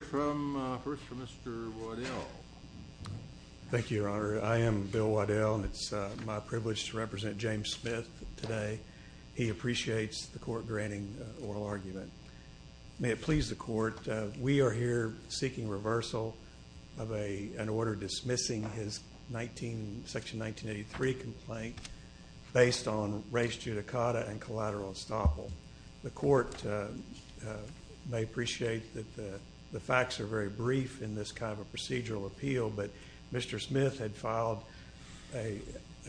First from Mr. Waddell. Thank you, Your Honor. I am Bill Waddell, and it's my privilege to represent James Smith today. He appreciates the court granting oral argument. May it please the court, we are here seeking reversal of an order dismissing his section 1983 complaint based on race judicata and collateral estoppel. The court may appreciate that the facts are very brief in this kind of procedural appeal, but Mr. Smith had filed a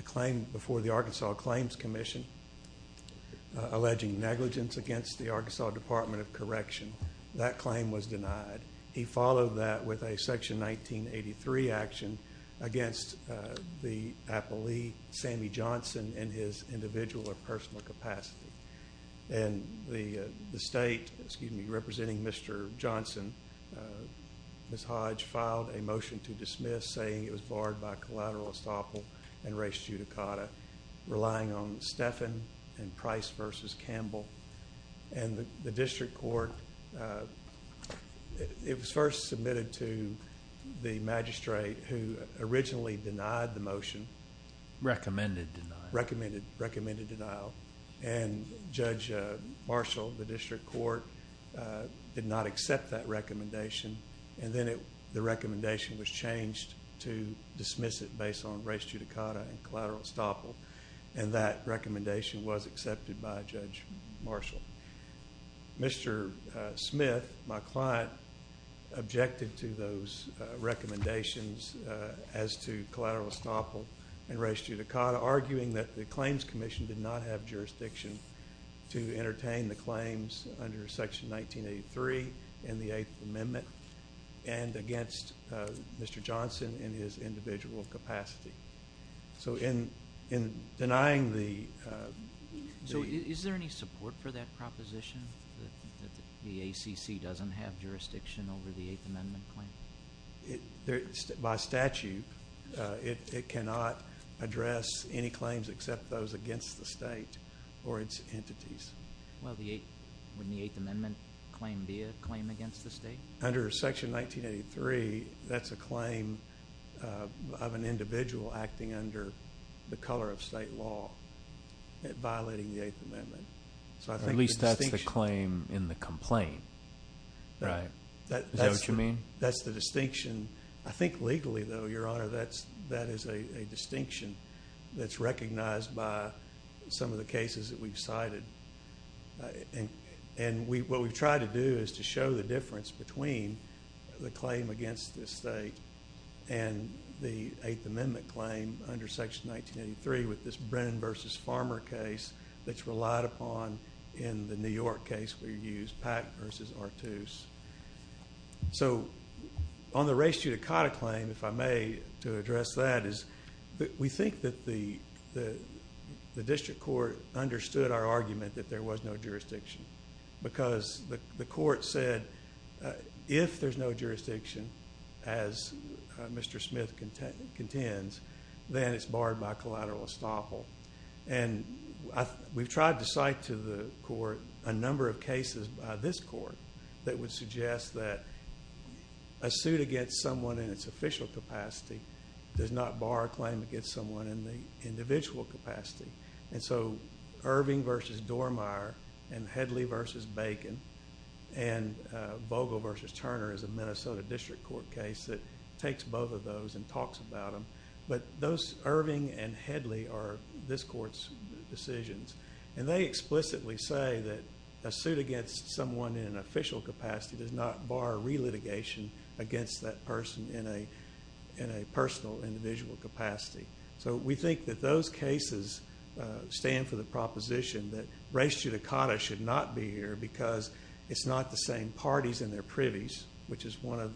claim before the Arkansas Claims Commission alleging negligence against the Arkansas Department of Correction. That claim was denied. He followed that with a section 1983 action against the appellee, Sammy Johnson, in his individual or personal capacity. And the state, excuse me, representing Mr. Johnson, Ms. Hodge, filed a motion to dismiss saying it was barred by collateral estoppel and race judicata, relying on Steffen and Price v. Campbell. And the district court, it was first submitted to the magistrate who originally denied the motion. Recommended denial. Recommended denial. And Judge Marshall of the district court did not accept that recommendation. And then the recommendation was changed to dismiss it based on race judicata and collateral estoppel. And that recommendation was accepted by Judge Marshall. Mr. Smith, my client, objected to those recommendations as to collateral estoppel and race judicata, arguing that the Claims Commission did not have jurisdiction to entertain the claims under Section 1983 in the Eighth Amendment and against Mr. Johnson in his individual capacity. So in denying the... So is there any support for that proposition, that the ACC doesn't have jurisdiction over the Eighth Amendment claim? By statute, it cannot address any claims except those against the state or its entities. Well, wouldn't the Eighth Amendment claim be a claim against the state? Under Section 1983, that's a claim of an individual acting under the color of state law, violating the Eighth Amendment. At least that's the claim in the complaint, right? Is that what you mean? That's the distinction. I think legally, though, Your Honor, that is a distinction that's recognized by some of the cases that we've cited. And what we've tried to do is to show the difference between the claim against the state and the Eighth Amendment claim under Section 1983 with this Brennan v. Farmer case that's relied upon in the New York case where you used Pack v. Artuse. So on the race judicata claim, if I may, to address that is that we think that the district court understood our argument that there was no jurisdiction because the court said if there's no jurisdiction, as Mr. Smith contends, then it's barred by collateral estoppel. And we've tried to cite to the court a number of cases by this court that would suggest that a suit against someone in its official capacity does not bar a claim against someone in the individual capacity. And so Irving v. Dormeyer and Headley v. Bacon and Vogel v. Turner is a Minnesota district court case that takes both of those and talks about them. But Irving and Headley are this court's decisions. And they explicitly say that a suit against someone in an official capacity does not bar relitigation against that person in a personal individual capacity. So we think that those cases stand for the proposition that race judicata should not be here because it's not the same parties in their privies, which is one of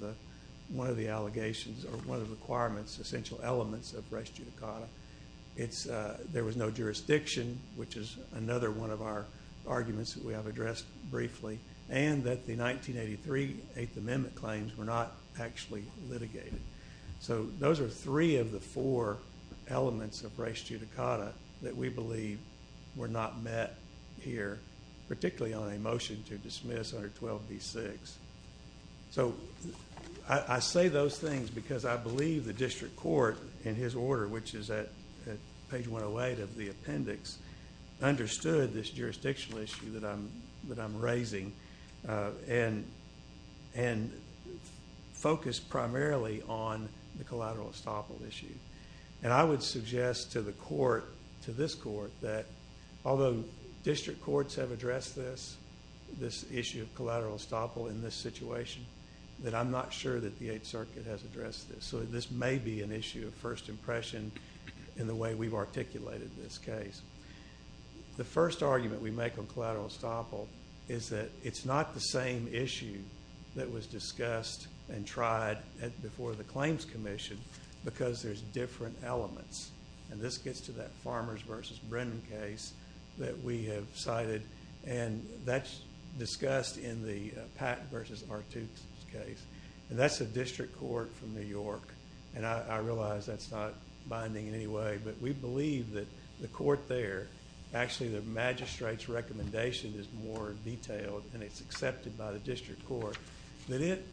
the allegations or one of the requirements, essential elements of race judicata. There was no jurisdiction, which is another one of our arguments that we have addressed briefly, and that the 1983 Eighth Amendment claims were not actually litigated. So those are three of the four elements of race judicata that we believe were not met here, particularly on a motion to dismiss under 12b-6. So I say those things because I believe the district court, in his order, which is at page 108 of the appendix, understood this jurisdictional issue that I'm raising and focused primarily on the collateral estoppel issue. And I would suggest to the court, to this court, that although district courts have addressed this, this issue of collateral estoppel in this situation, that I'm not sure that the Eighth Circuit has addressed this. So this may be an issue of first impression in the way we've articulated this case. The first argument we make on collateral estoppel is that it's not the same issue that was discussed and tried before the Claims Commission because there's different elements, and this gets to that Farmers v. Brennan case that we have cited, and that's discussed in the Pat v. Artux's case, and that's a district court from New York. And I realize that's not binding in any way, but we believe that the court there, actually the magistrate's recommendation is more detailed, and it's accepted by the district court, that it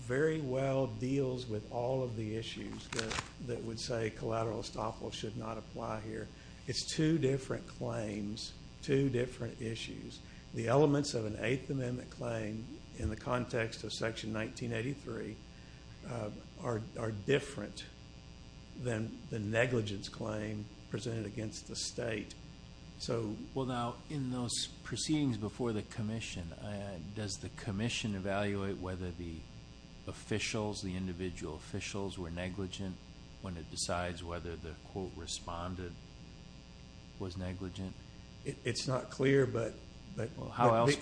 very well deals with all of the issues that would say collateral estoppel should not apply here. It's two different claims, two different issues. The elements of an Eighth Amendment claim, in the context of Section 1983, are different than the negligence claim presented against the state. Well, now, in those proceedings before the commission, does the commission evaluate whether the officials, the individual officials, were negligent when it decides whether the, quote, respondent was negligent? It's not clear, but they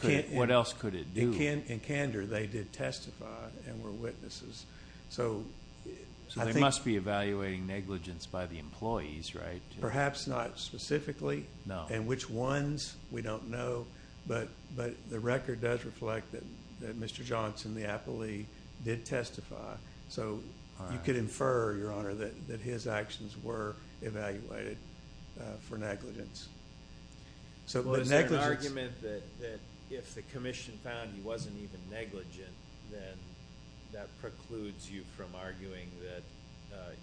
can't. What else could it do? In candor, they did testify and were witnesses. So they must be evaluating negligence by the employees, right? Perhaps not specifically. And which ones, we don't know. But the record does reflect that Mr. Johnson, the appellee, did testify. So you could infer, Your Honor, that his actions were evaluated for negligence. Well, is there an argument that if the commission found he wasn't even negligent, then that precludes you from arguing that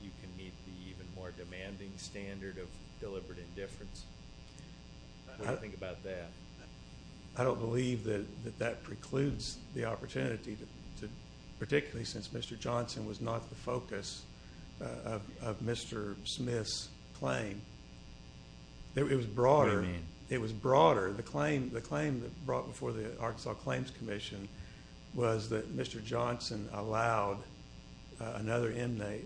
you can meet the even more demanding standard of deliberate indifference? What do you think about that? I don't believe that that precludes the opportunity, particularly since Mr. Johnson was not the focus of Mr. Smith's claim. It was broader. What do you mean? It was broader. The claim brought before the Arkansas Claims Commission was that Mr. Johnson allowed another inmate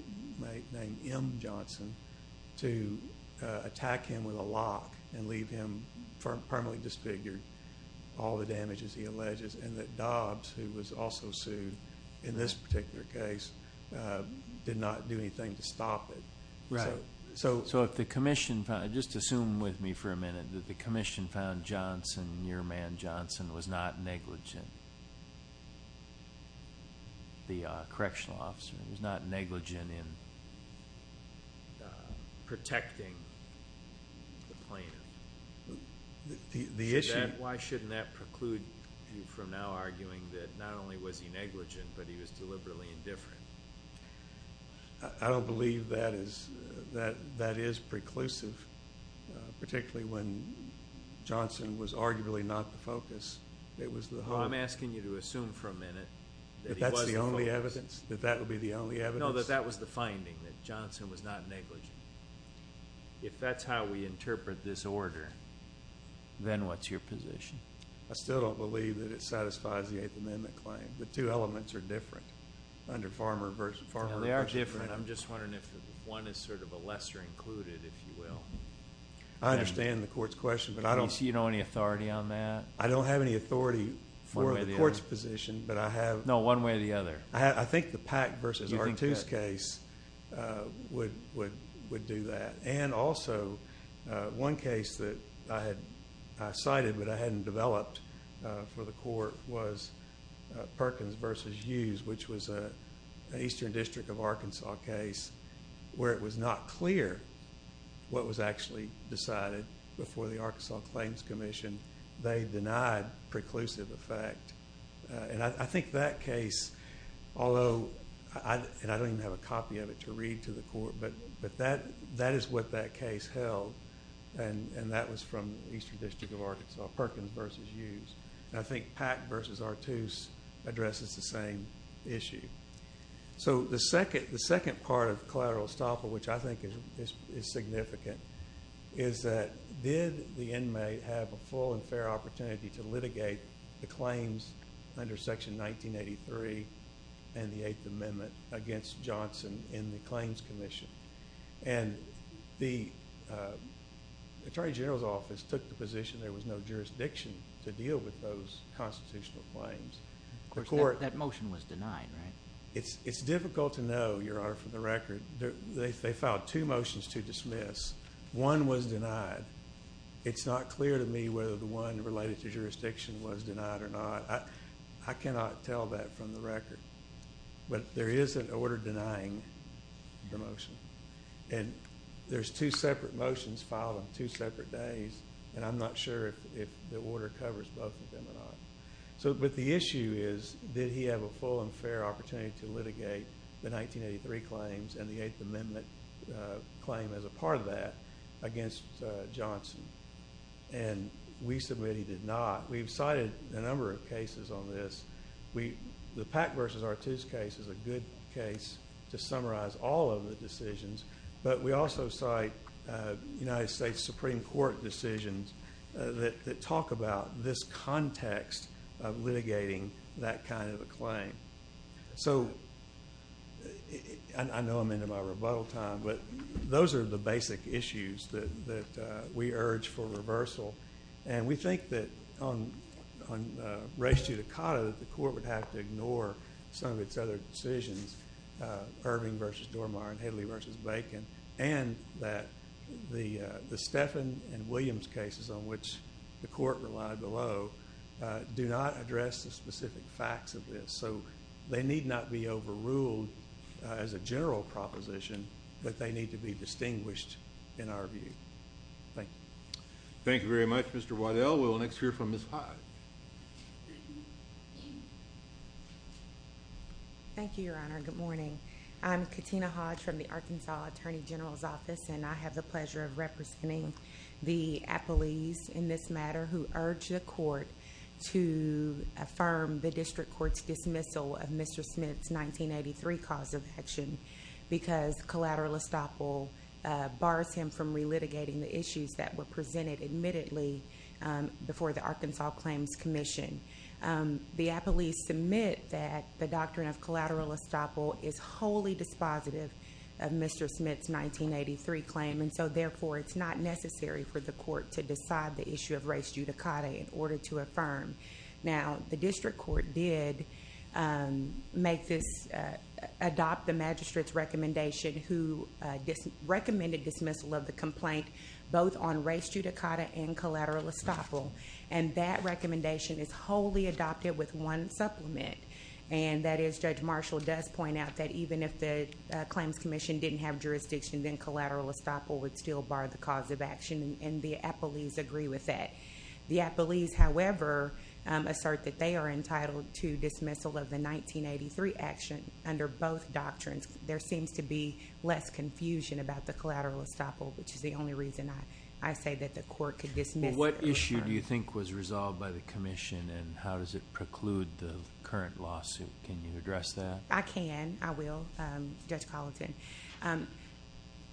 named M. Johnson to attack him with a lock and leave him permanently disfigured, all the damages he alleges, and that Dobbs, who was also sued in this particular case, did not do anything to stop it. Right. So if the commission found, just assume with me for a minute, that the commission found Johnson, your man Johnson, was not negligent, the correctional officer, was not negligent in protecting the plaintiff, why shouldn't that preclude you from now arguing that not only was he negligent, but he was deliberately indifferent? I don't believe that is preclusive, particularly when Johnson was arguably not the focus. It was the hope. So I'm asking you to assume for a minute that he was the focus. That that's the only evidence? That that would be the only evidence? No, that that was the finding, that Johnson was not negligent. If that's how we interpret this order, then what's your position? I still don't believe that it satisfies the Eighth Amendment claim. The two elements are different. They are different. I'm just wondering if one is sort of a lesser included, if you will. I understand the court's question. Do you see any authority on that? I don't have any authority for the court's position, but I have. No, one way or the other. I think the Pack v. Artoo's case would do that. And also, one case that I cited but I hadn't developed for the court was Perkins v. Hughes, which was an Eastern District of Arkansas case where it was not clear what was actually decided before the Arkansas Claims Commission. They denied preclusive effect. And I think that case, although I don't even have a copy of it to read to the court, but that is what that case held, and that was from the Eastern District of Arkansas, Perkins v. Hughes. And I think Pack v. Artoo's addresses the same issue. So the second part of collateral estoppel, which I think is significant, is that did the inmate have a full and fair opportunity to litigate the claims under Section 1983 and the Eighth Amendment against Johnson in the Claims Commission? And the Attorney General's Office took the position there was no jurisdiction to deal with those constitutional claims. Of course, that motion was denied, right? It's difficult to know, Your Honor, from the record. They filed two motions to dismiss. One was denied. It's not clear to me whether the one related to jurisdiction was denied or not. I cannot tell that from the record. But there is an order denying the motion. And there's two separate motions filed on two separate days, and I'm not sure if the order covers both of them or not. But the issue is, did he have a full and fair opportunity to litigate the 1983 claims and the Eighth Amendment claim as a part of that against Johnson? And we submit he did not. We've cited a number of cases on this. The Pack v. Artoo's case is a good case to summarize all of the decisions, but we also cite United States Supreme Court decisions that talk about this context of litigating that kind of a claim. So I know I'm into my rebuttal time, but those are the basic issues that we urge for reversal. And we think that on race judicata that the court would have to ignore some of its other decisions, Irving v. Dormeyer and Hedley v. Bacon, and that the Stephan and Williams cases on which the court relied below do not address the specific facts of this. So they need not be overruled as a general proposition, but they need to be distinguished in our view. Thank you. Thank you very much, Mr. Waddell. We'll next hear from Ms. Hodge. Thank you, Your Honor. Good morning. I'm Katina Hodge from the Arkansas Attorney General's Office, and I have the pleasure of representing the appellees in this matter who urged the court to affirm the district court's dismissal of Mr. Smith's 1983 cause of action because collateral estoppel bars him from relitigating the issues that were presented admittedly before the Arkansas Claims Commission. The appellees submit that the doctrine of collateral estoppel is wholly dispositive of Mr. Smith's 1983 claim, and so therefore it's not necessary for the court to decide the issue of race judicata in order to affirm. Now, the district court did adopt the magistrate's recommendation who recommended dismissal of the complaint both on race judicata and collateral estoppel, and that recommendation is wholly adopted with one supplement, and that is Judge Marshall does point out that even if the Claims Commission didn't have jurisdiction, then collateral estoppel would still bar the cause of action, and the appellees agree with that. The appellees, however, assert that they are entitled to dismissal of the 1983 action under both doctrines. There seems to be less confusion about the collateral estoppel, which is the only reason I say that the court could dismiss it. What issue do you think was resolved by the commission, and how does it preclude the current lawsuit? Can you address that? I can. I will, Judge Colleton.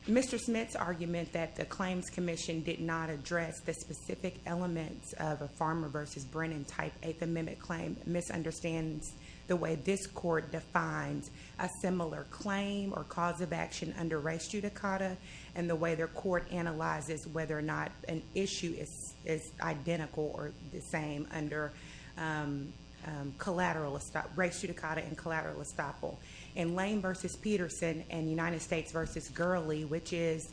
Mr. Smith's argument that the Claims Commission did not address the specific elements of a Farmer v. Brennan type Eighth Amendment claim misunderstands the way this court defines a similar claim or cause of action under race judicata and the way their court analyzes whether or not an issue is identical or the same under race judicata and collateral estoppel. In Lane v. Peterson and United States v. Gurley, which is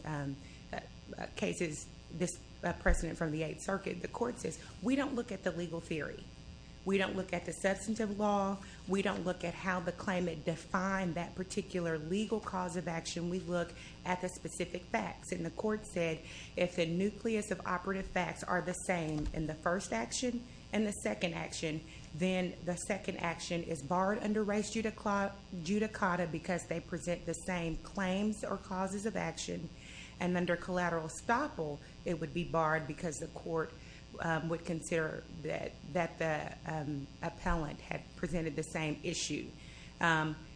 a precedent from the Eighth Circuit, the court says we don't look at the legal theory. We don't look at the substantive law. We don't look at how the claimant defined that particular legal cause of action. We look at the specific facts, and the court said if the nucleus of operative facts are the same in the first action and the second action, then the second action is barred under race judicata because they present the same claims or causes of action, and under collateral estoppel it would be barred because the court would consider that the appellant had presented the same issue.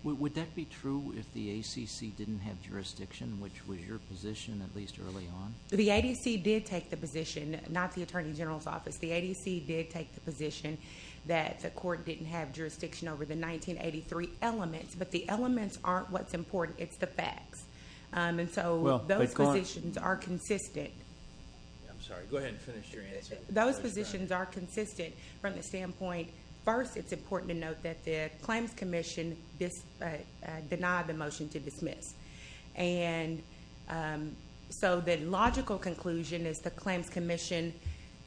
Would that be true if the ACC didn't have jurisdiction, which was your position at least early on? The ADC did take the position, not the Attorney General's Office. The ADC did take the position that the court didn't have jurisdiction over the 1983 elements, but the elements aren't what's important. It's the facts, and so those positions are consistent. I'm sorry. Go ahead and finish your answer. Those positions are consistent from the standpoint first it's important to note that the claims commission denied the motion to dismiss, and so the logical conclusion is the claims commission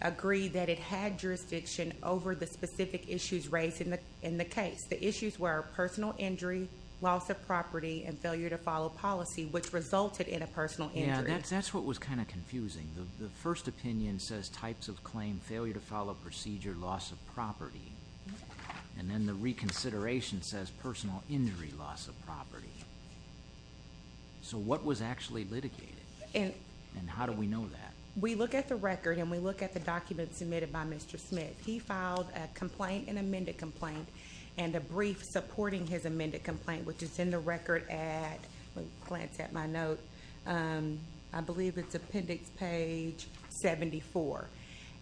agreed that it had jurisdiction over the specific issues raised in the case. The issues were personal injury, loss of property, and failure to follow policy, which resulted in a personal injury. Yeah, that's what was kind of confusing. The first opinion says types of claim, failure to follow procedure, loss of property, and then the reconsideration says personal injury, loss of property. So what was actually litigated, and how do we know that? We look at the record, and we look at the documents submitted by Mr. Smith. He filed a complaint, an amended complaint, and a brief supporting his amended complaint, which is in the record at, let me glance at my note, I believe it's appendix page 74,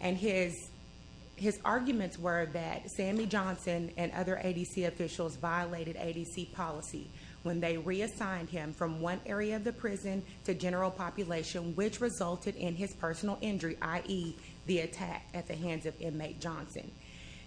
and his arguments were that Sammy Johnson and other ADC officials violated ADC policy when they reassigned him from one area of the prison to general population, which resulted in his personal injury, i.e., the attack at the hands of inmate Johnson.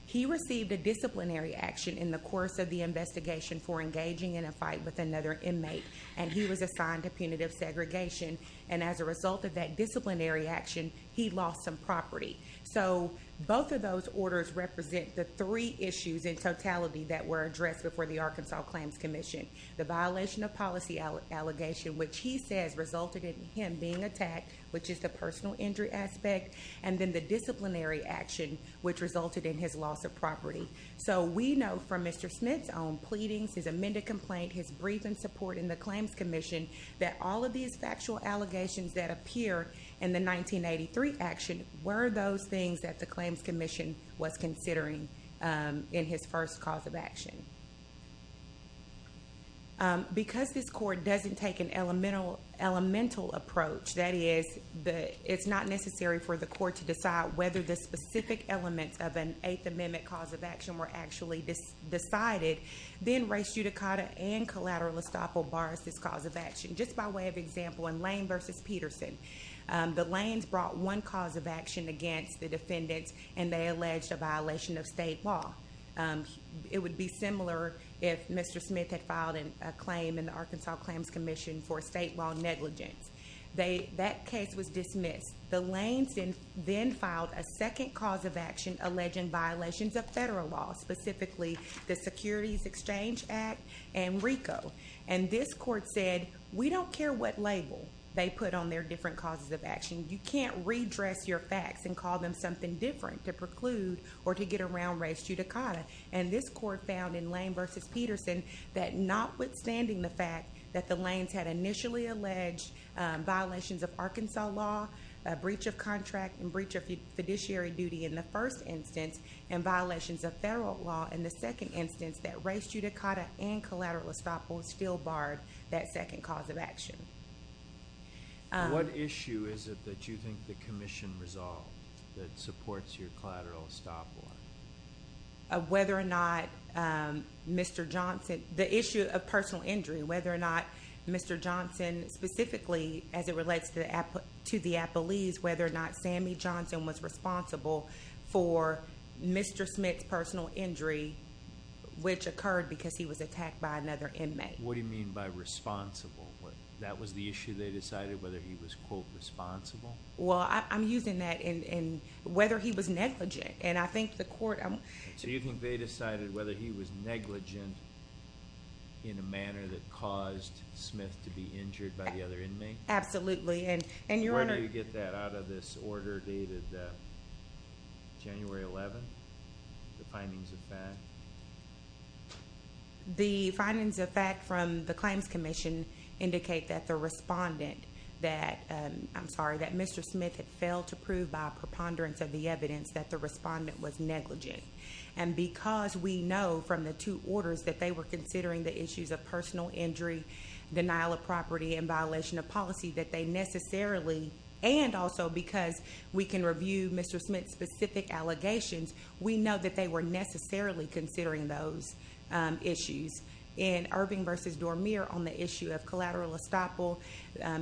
He received a disciplinary action in the course of the investigation for engaging in a fight with another inmate, and he was assigned to punitive segregation, and as a result of that disciplinary action, he lost some property. So both of those orders represent the three issues in totality that were addressed before the Arkansas Claims Commission. The violation of policy allegation, which he says resulted in him being attacked, which is the personal injury aspect, and then the disciplinary action, which resulted in his loss of property. So we know from Mr. Smith's own pleadings, his amended complaint, his brief in support in the Claims Commission, that all of these factual allegations that appear in the 1983 action were those things that the Claims Commission was considering in his first cause of action. Because this court doesn't take an elemental approach, that is, it's not necessary for the court to decide whether the specific elements of an Eighth Amendment cause of action were actually decided, then res judicata and collateral estoppel bars this cause of action. Just by way of example, in Lane v. Peterson, the Lanes brought one cause of action against the defendants, and they alleged a violation of state law. It would be similar if Mr. Smith had filed a claim in the Arkansas Claims Commission for state law negligence. That case was dismissed. The Lanes then filed a second cause of action alleging violations of federal law, specifically the Securities Exchange Act and RICO. And this court said, we don't care what label they put on their different causes of action. You can't redress your facts and call them something different to preclude or to get around res judicata. And this court found in Lane v. Peterson that notwithstanding the fact that the Lanes had initially alleged violations of Arkansas law, a breach of contract and breach of fiduciary duty in the first instance, and violations of federal law in the second instance, that res judicata and collateral estoppels still barred that second cause of action. What issue is it that you think the Commission resolved that supports your collateral estoppel? Whether or not Mr. Johnson, the issue of personal injury. Whether or not Mr. Johnson, specifically as it relates to the Appalese, whether or not Sammy Johnson was responsible for Mr. Smith's personal injury, which occurred because he was attacked by another inmate. What do you mean by responsible? That was the issue they decided, whether he was, quote, responsible? Well, I'm using that in whether he was negligent. So you think they decided whether he was negligent in a manner that caused Smith to be injured by the other inmate? Absolutely. Where do you get that out of this order dated January 11th, the findings of fact? The findings of fact from the Claims Commission indicate that the respondent, I'm sorry, that Mr. Smith had failed to prove by preponderance of the evidence that the respondent was negligent. And because we know from the two orders that they were considering the issues of personal injury, denial of property, and violation of policy that they necessarily, and also because we can review Mr. Smith's specific allegations, we know that they were necessarily considering those issues. In Irving v. Dormier on the issue of collateral estoppel,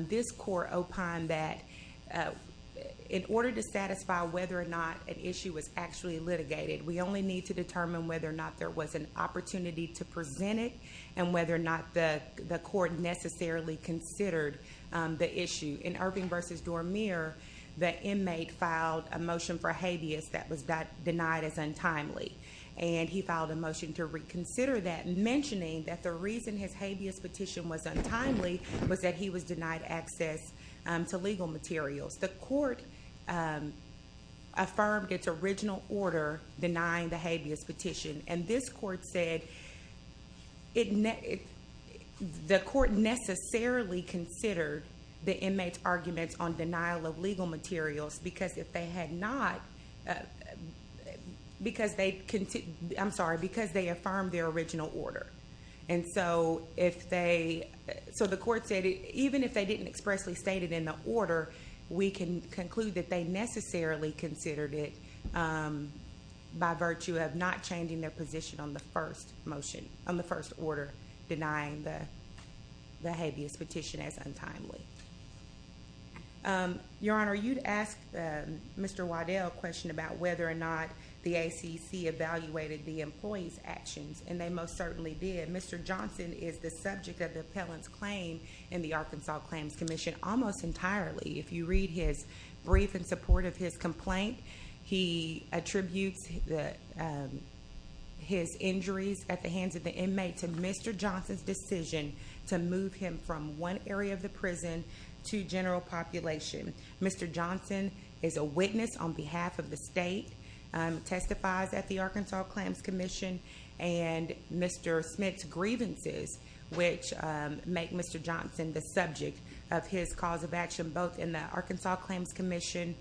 this court opined that in order to satisfy whether or not an issue was actually litigated, we only need to determine whether or not there was an opportunity to present it and whether or not the court necessarily considered the issue. In Irving v. Dormier, the inmate filed a motion for habeas that was denied as untimely. And he filed a motion to reconsider that, mentioning that the reason his habeas petition was untimely was that he was denied access to legal materials. The court affirmed its original order denying the habeas petition, and this court said the court necessarily considered the inmate's arguments on denial of legal materials because they affirmed their original order. And so the court said even if they didn't expressly state it in the order, we can conclude that they necessarily considered it by virtue of not changing their position on the first order, denying the habeas petition as untimely. Your Honor, you'd ask Mr. Waddell a question about whether or not the ACC evaluated the employee's actions, and they most certainly did. Mr. Johnson is the subject of the appellant's claim in the Arkansas Claims Commission almost entirely. If you read his brief in support of his complaint, he attributes his injuries at the hands of the inmate to Mr. Johnson's decision to move him from one area of the prison to general population. Mr. Johnson is a witness on behalf of the state, testifies at the Arkansas Claims Commission, and Mr. Smith's grievances, which make Mr. Johnson the subject of his cause of action both in the Arkansas Claims Commission,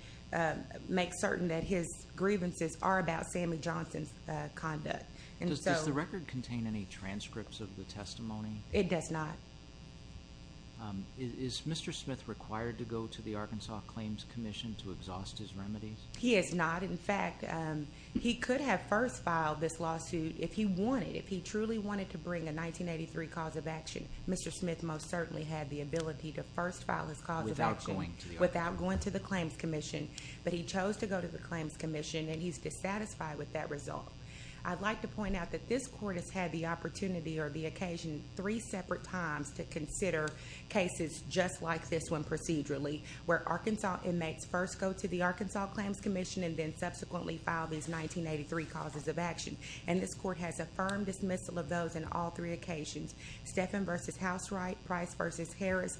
make certain that his grievances are about Sammy Johnson's conduct. Does the record contain any transcripts of the testimony? It does not. Is Mr. Smith required to go to the Arkansas Claims Commission to exhaust his remedies? He is not. In fact, he could have first filed this lawsuit if he wanted, if he truly wanted to bring a 1983 cause of action. Mr. Smith most certainly had the ability to first file his cause of action without going to the Claims Commission, but he chose to go to the Claims Commission, and he's dissatisfied with that result. I'd like to point out that this court has had the opportunity or the occasion three separate times to consider cases just like this one procedurally, where Arkansas inmates first go to the Arkansas Claims Commission and then subsequently file these 1983 causes of action. And this court has affirmed dismissal of those on all three occasions. Steffen v. Housewright, Price v. Harris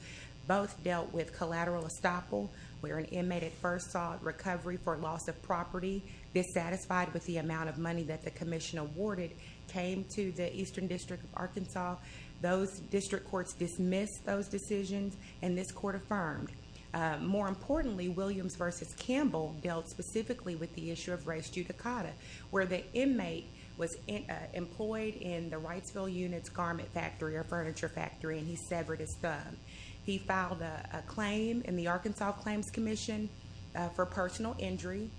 both dealt with collateral estoppel, where an inmate at first sought recovery for loss of property, dissatisfied with the amount of money that the commission awarded, came to the Eastern District of Arkansas. Those district courts dismissed those decisions, and this court affirmed. More importantly, Williams v. Campbell dealt specifically with the issue of res judicata, where the inmate was employed in the Wrightsville Unit's garment factory or furniture factory, and he severed his thumb. He filed a claim in the Arkansas Claims Commission for personal injury.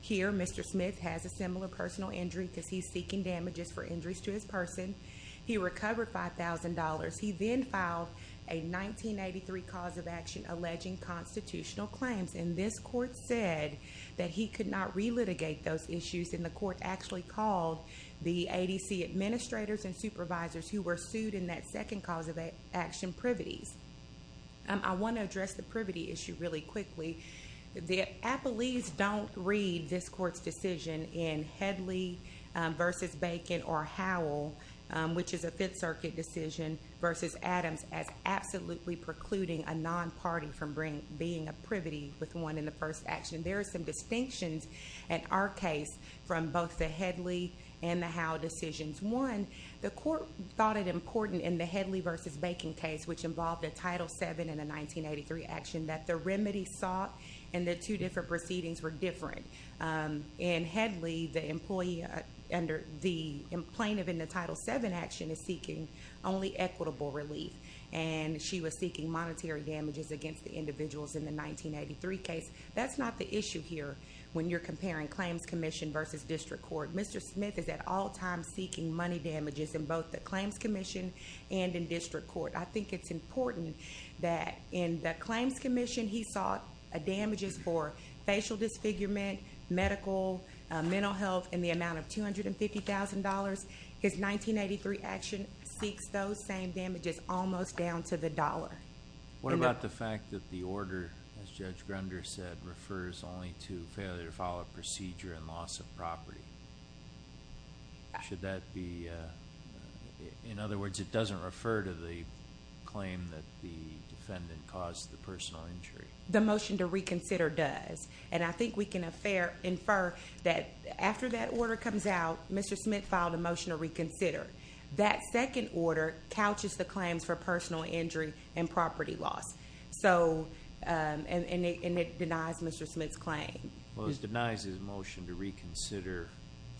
Here, Mr. Smith has a similar personal injury because he's seeking damages for injuries to his person. He recovered $5,000. He then filed a 1983 cause of action alleging constitutional claims, and this court said that he could not relitigate those issues, and the court actually called the ADC administrators and supervisors who were sued in that second cause of action privities. I want to address the privity issue really quickly. The appellees don't read this court's decision in Headley v. Bacon or Howell, which is a Fifth Circuit decision, versus Adams as absolutely precluding a non-party from being a privity with one in the first action. There are some distinctions in our case from both the Headley and the Howell decisions. One, the court thought it important in the Headley v. Bacon case, which involved a Title VII and a 1983 action, that the remedy sought and the two different proceedings were different. In Headley, the plaintiff in the Title VII action is seeking only equitable relief, and she was seeking monetary damages against the individuals in the 1983 case. That's not the issue here when you're comparing claims commission versus district court. Mr. Smith is at all times seeking money damages in both the claims commission and in district court. I think it's important that in the claims commission, he sought damages for facial disfigurement, medical, mental health, and the amount of $250,000. His 1983 action seeks those same damages almost down to the dollar. What about the fact that the order, as Judge Grunder said, refers only to failure to follow procedure and loss of property? In other words, it doesn't refer to the claim that the defendant caused the personal injury? The motion to reconsider does. I think we can infer that after that order comes out, Mr. Smith filed a motion to reconsider. That second order couches the claims for personal injury and property loss, and it denies Mr. Smith's claim. Well, it denies his motion to reconsider.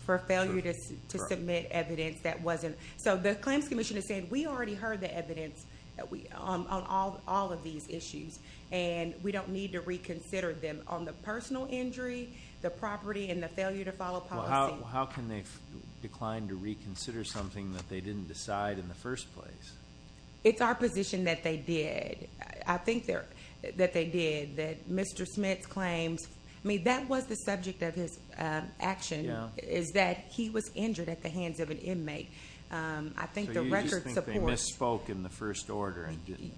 For failure to submit evidence that wasn't. So the claims commission has said, we already heard the evidence on all of these issues, and we don't need to reconsider them on the personal injury, the property, and the failure to follow policy. How can they decline to reconsider something that they didn't decide in the first place? It's our position that they did. I think that they did, that Mr. Smith's claims, I mean, that was the subject of his action, is that he was injured at the hands of an inmate. I think the record supports. So you just think they misspoke in the first order and didn't?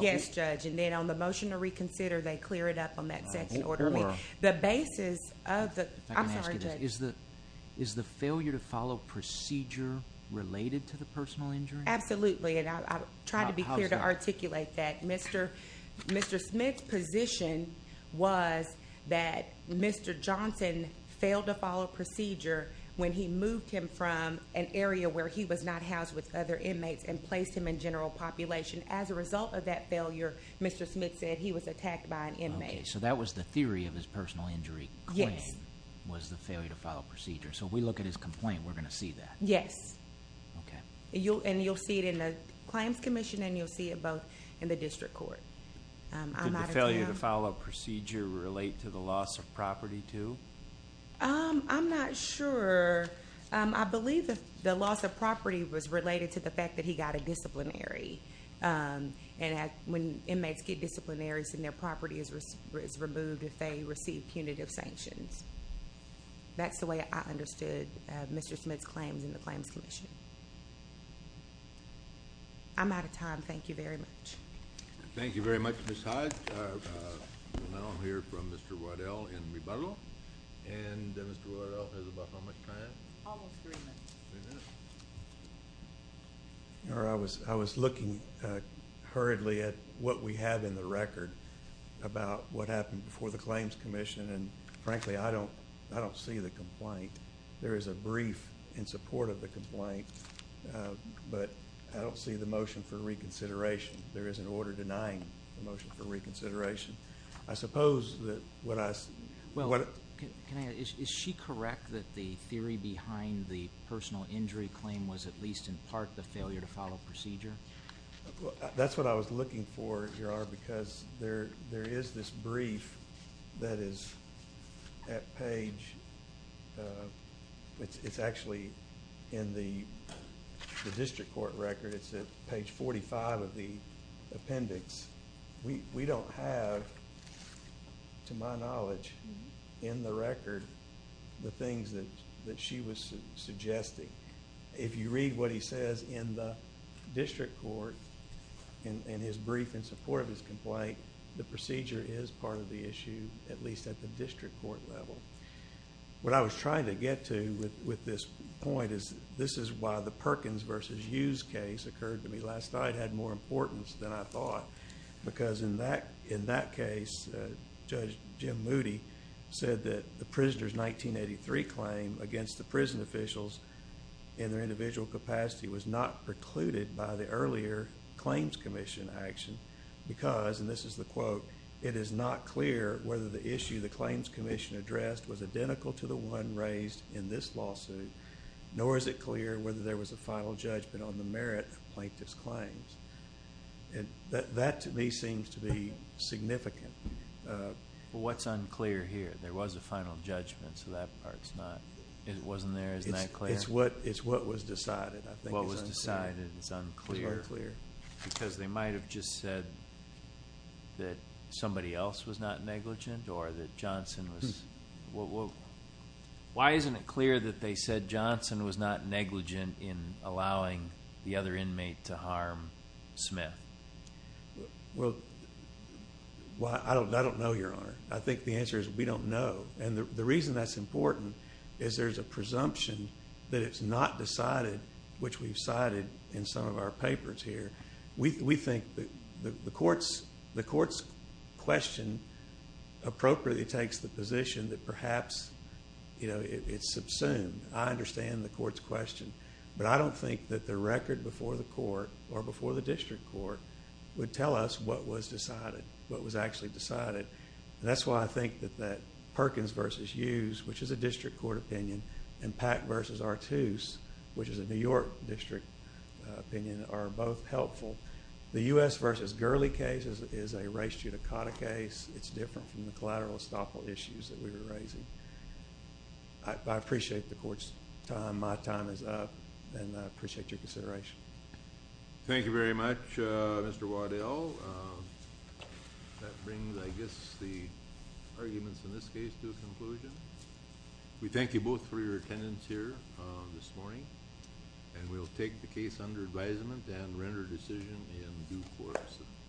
Yes, Judge, and then on the motion to reconsider, they clear it up on that second order. The basis of the, I'm sorry, Judge. Is the failure to follow procedure related to the personal injury? Absolutely, and I'll try to be clear to articulate that. Mr. Smith's position was that Mr. Johnson failed to follow procedure when he moved him from an area where he was not housed with other inmates and placed him in general population. As a result of that failure, Mr. Smith said he was attacked by an inmate. Okay, so that was the theory of his personal injury. Yes. Was the failure to follow procedure. So if we look at his complaint, we're going to see that. Yes. Okay. And you'll see it in the Claims Commission, and you'll see it both in the district court. Could the failure to follow procedure relate to the loss of property too? I'm not sure. I believe the loss of property was related to the fact that he got a disciplinary. And when inmates get disciplinary, their property is removed if they receive punitive sanctions. That's the way I understood Mr. Smith's claims in the Claims Commission. I'm out of time. Thank you very much. Thank you very much, Ms. Hyde. Now I'm going to hear from Mr. Waddell in rebuttal. And Mr. Waddell has about how much time? Almost three minutes. Three minutes. I was looking hurriedly at what we have in the record about what happened before the Claims Commission. And, frankly, I don't see the complaint. There is a brief in support of the complaint, but I don't see the motion for reconsideration. There is an order denying the motion for reconsideration. I suppose that what I see. Is she correct that the theory behind the personal injury claim was, at least in part, the failure to follow procedure? That's what I was looking for, because there is this brief that is at page... It's actually in the district court record. It's at page 45 of the appendix. We don't have, to my knowledge, in the record, the things that she was suggesting. If you read what he says in the district court, in his brief in support of his complaint, the procedure is part of the issue, at least at the district court level. What I was trying to get to with this point is, this is why the Perkins v. Hughes case occurred to me. I thought it had more importance than I thought, because in that case, Judge Jim Moody said that the prisoner's 1983 claim against the prison officials in their individual capacity was not precluded by the earlier Claims Commission action, because, and this is the quote, it is not clear whether the issue the Claims Commission addressed was identical to the one raised in this lawsuit, nor is it clear whether there was a final judgment on the merit of Plaintiff's claims. That, to me, seems to be significant. Well, what's unclear here? There was a final judgment, so that part's not... It wasn't there, isn't that clear? It's what was decided, I think. What was decided is unclear. It's unclear. Because they might have just said that somebody else was not negligent, or that Johnson was... Why isn't it clear that they said Johnson was not negligent in allowing the other inmate to harm Smith? Well, I don't know, Your Honor. I think the answer is we don't know. And the reason that's important is there's a presumption that it's not decided, which we've cited in some of our papers here. We think the court's question appropriately takes the position that perhaps it's subsumed. I understand the court's question, but I don't think that the record before the court, or before the district court, would tell us what was decided, what was actually decided. That's why I think that Perkins v. Hughes, which is a district court opinion, and Pack v. Artuse, which is a New York district opinion, are both helpful. The U.S. v. Gurley case is a race judicata case. It's different from the collateral estoppel issues that we were raising. I appreciate the court's time. My time is up, and I appreciate your consideration. Thank you very much, Mr. Waddell. That brings, I guess, the arguments in this case to a conclusion. We thank you both for your attendance here this morning, and we'll take the case under advisement and render a decision in due course.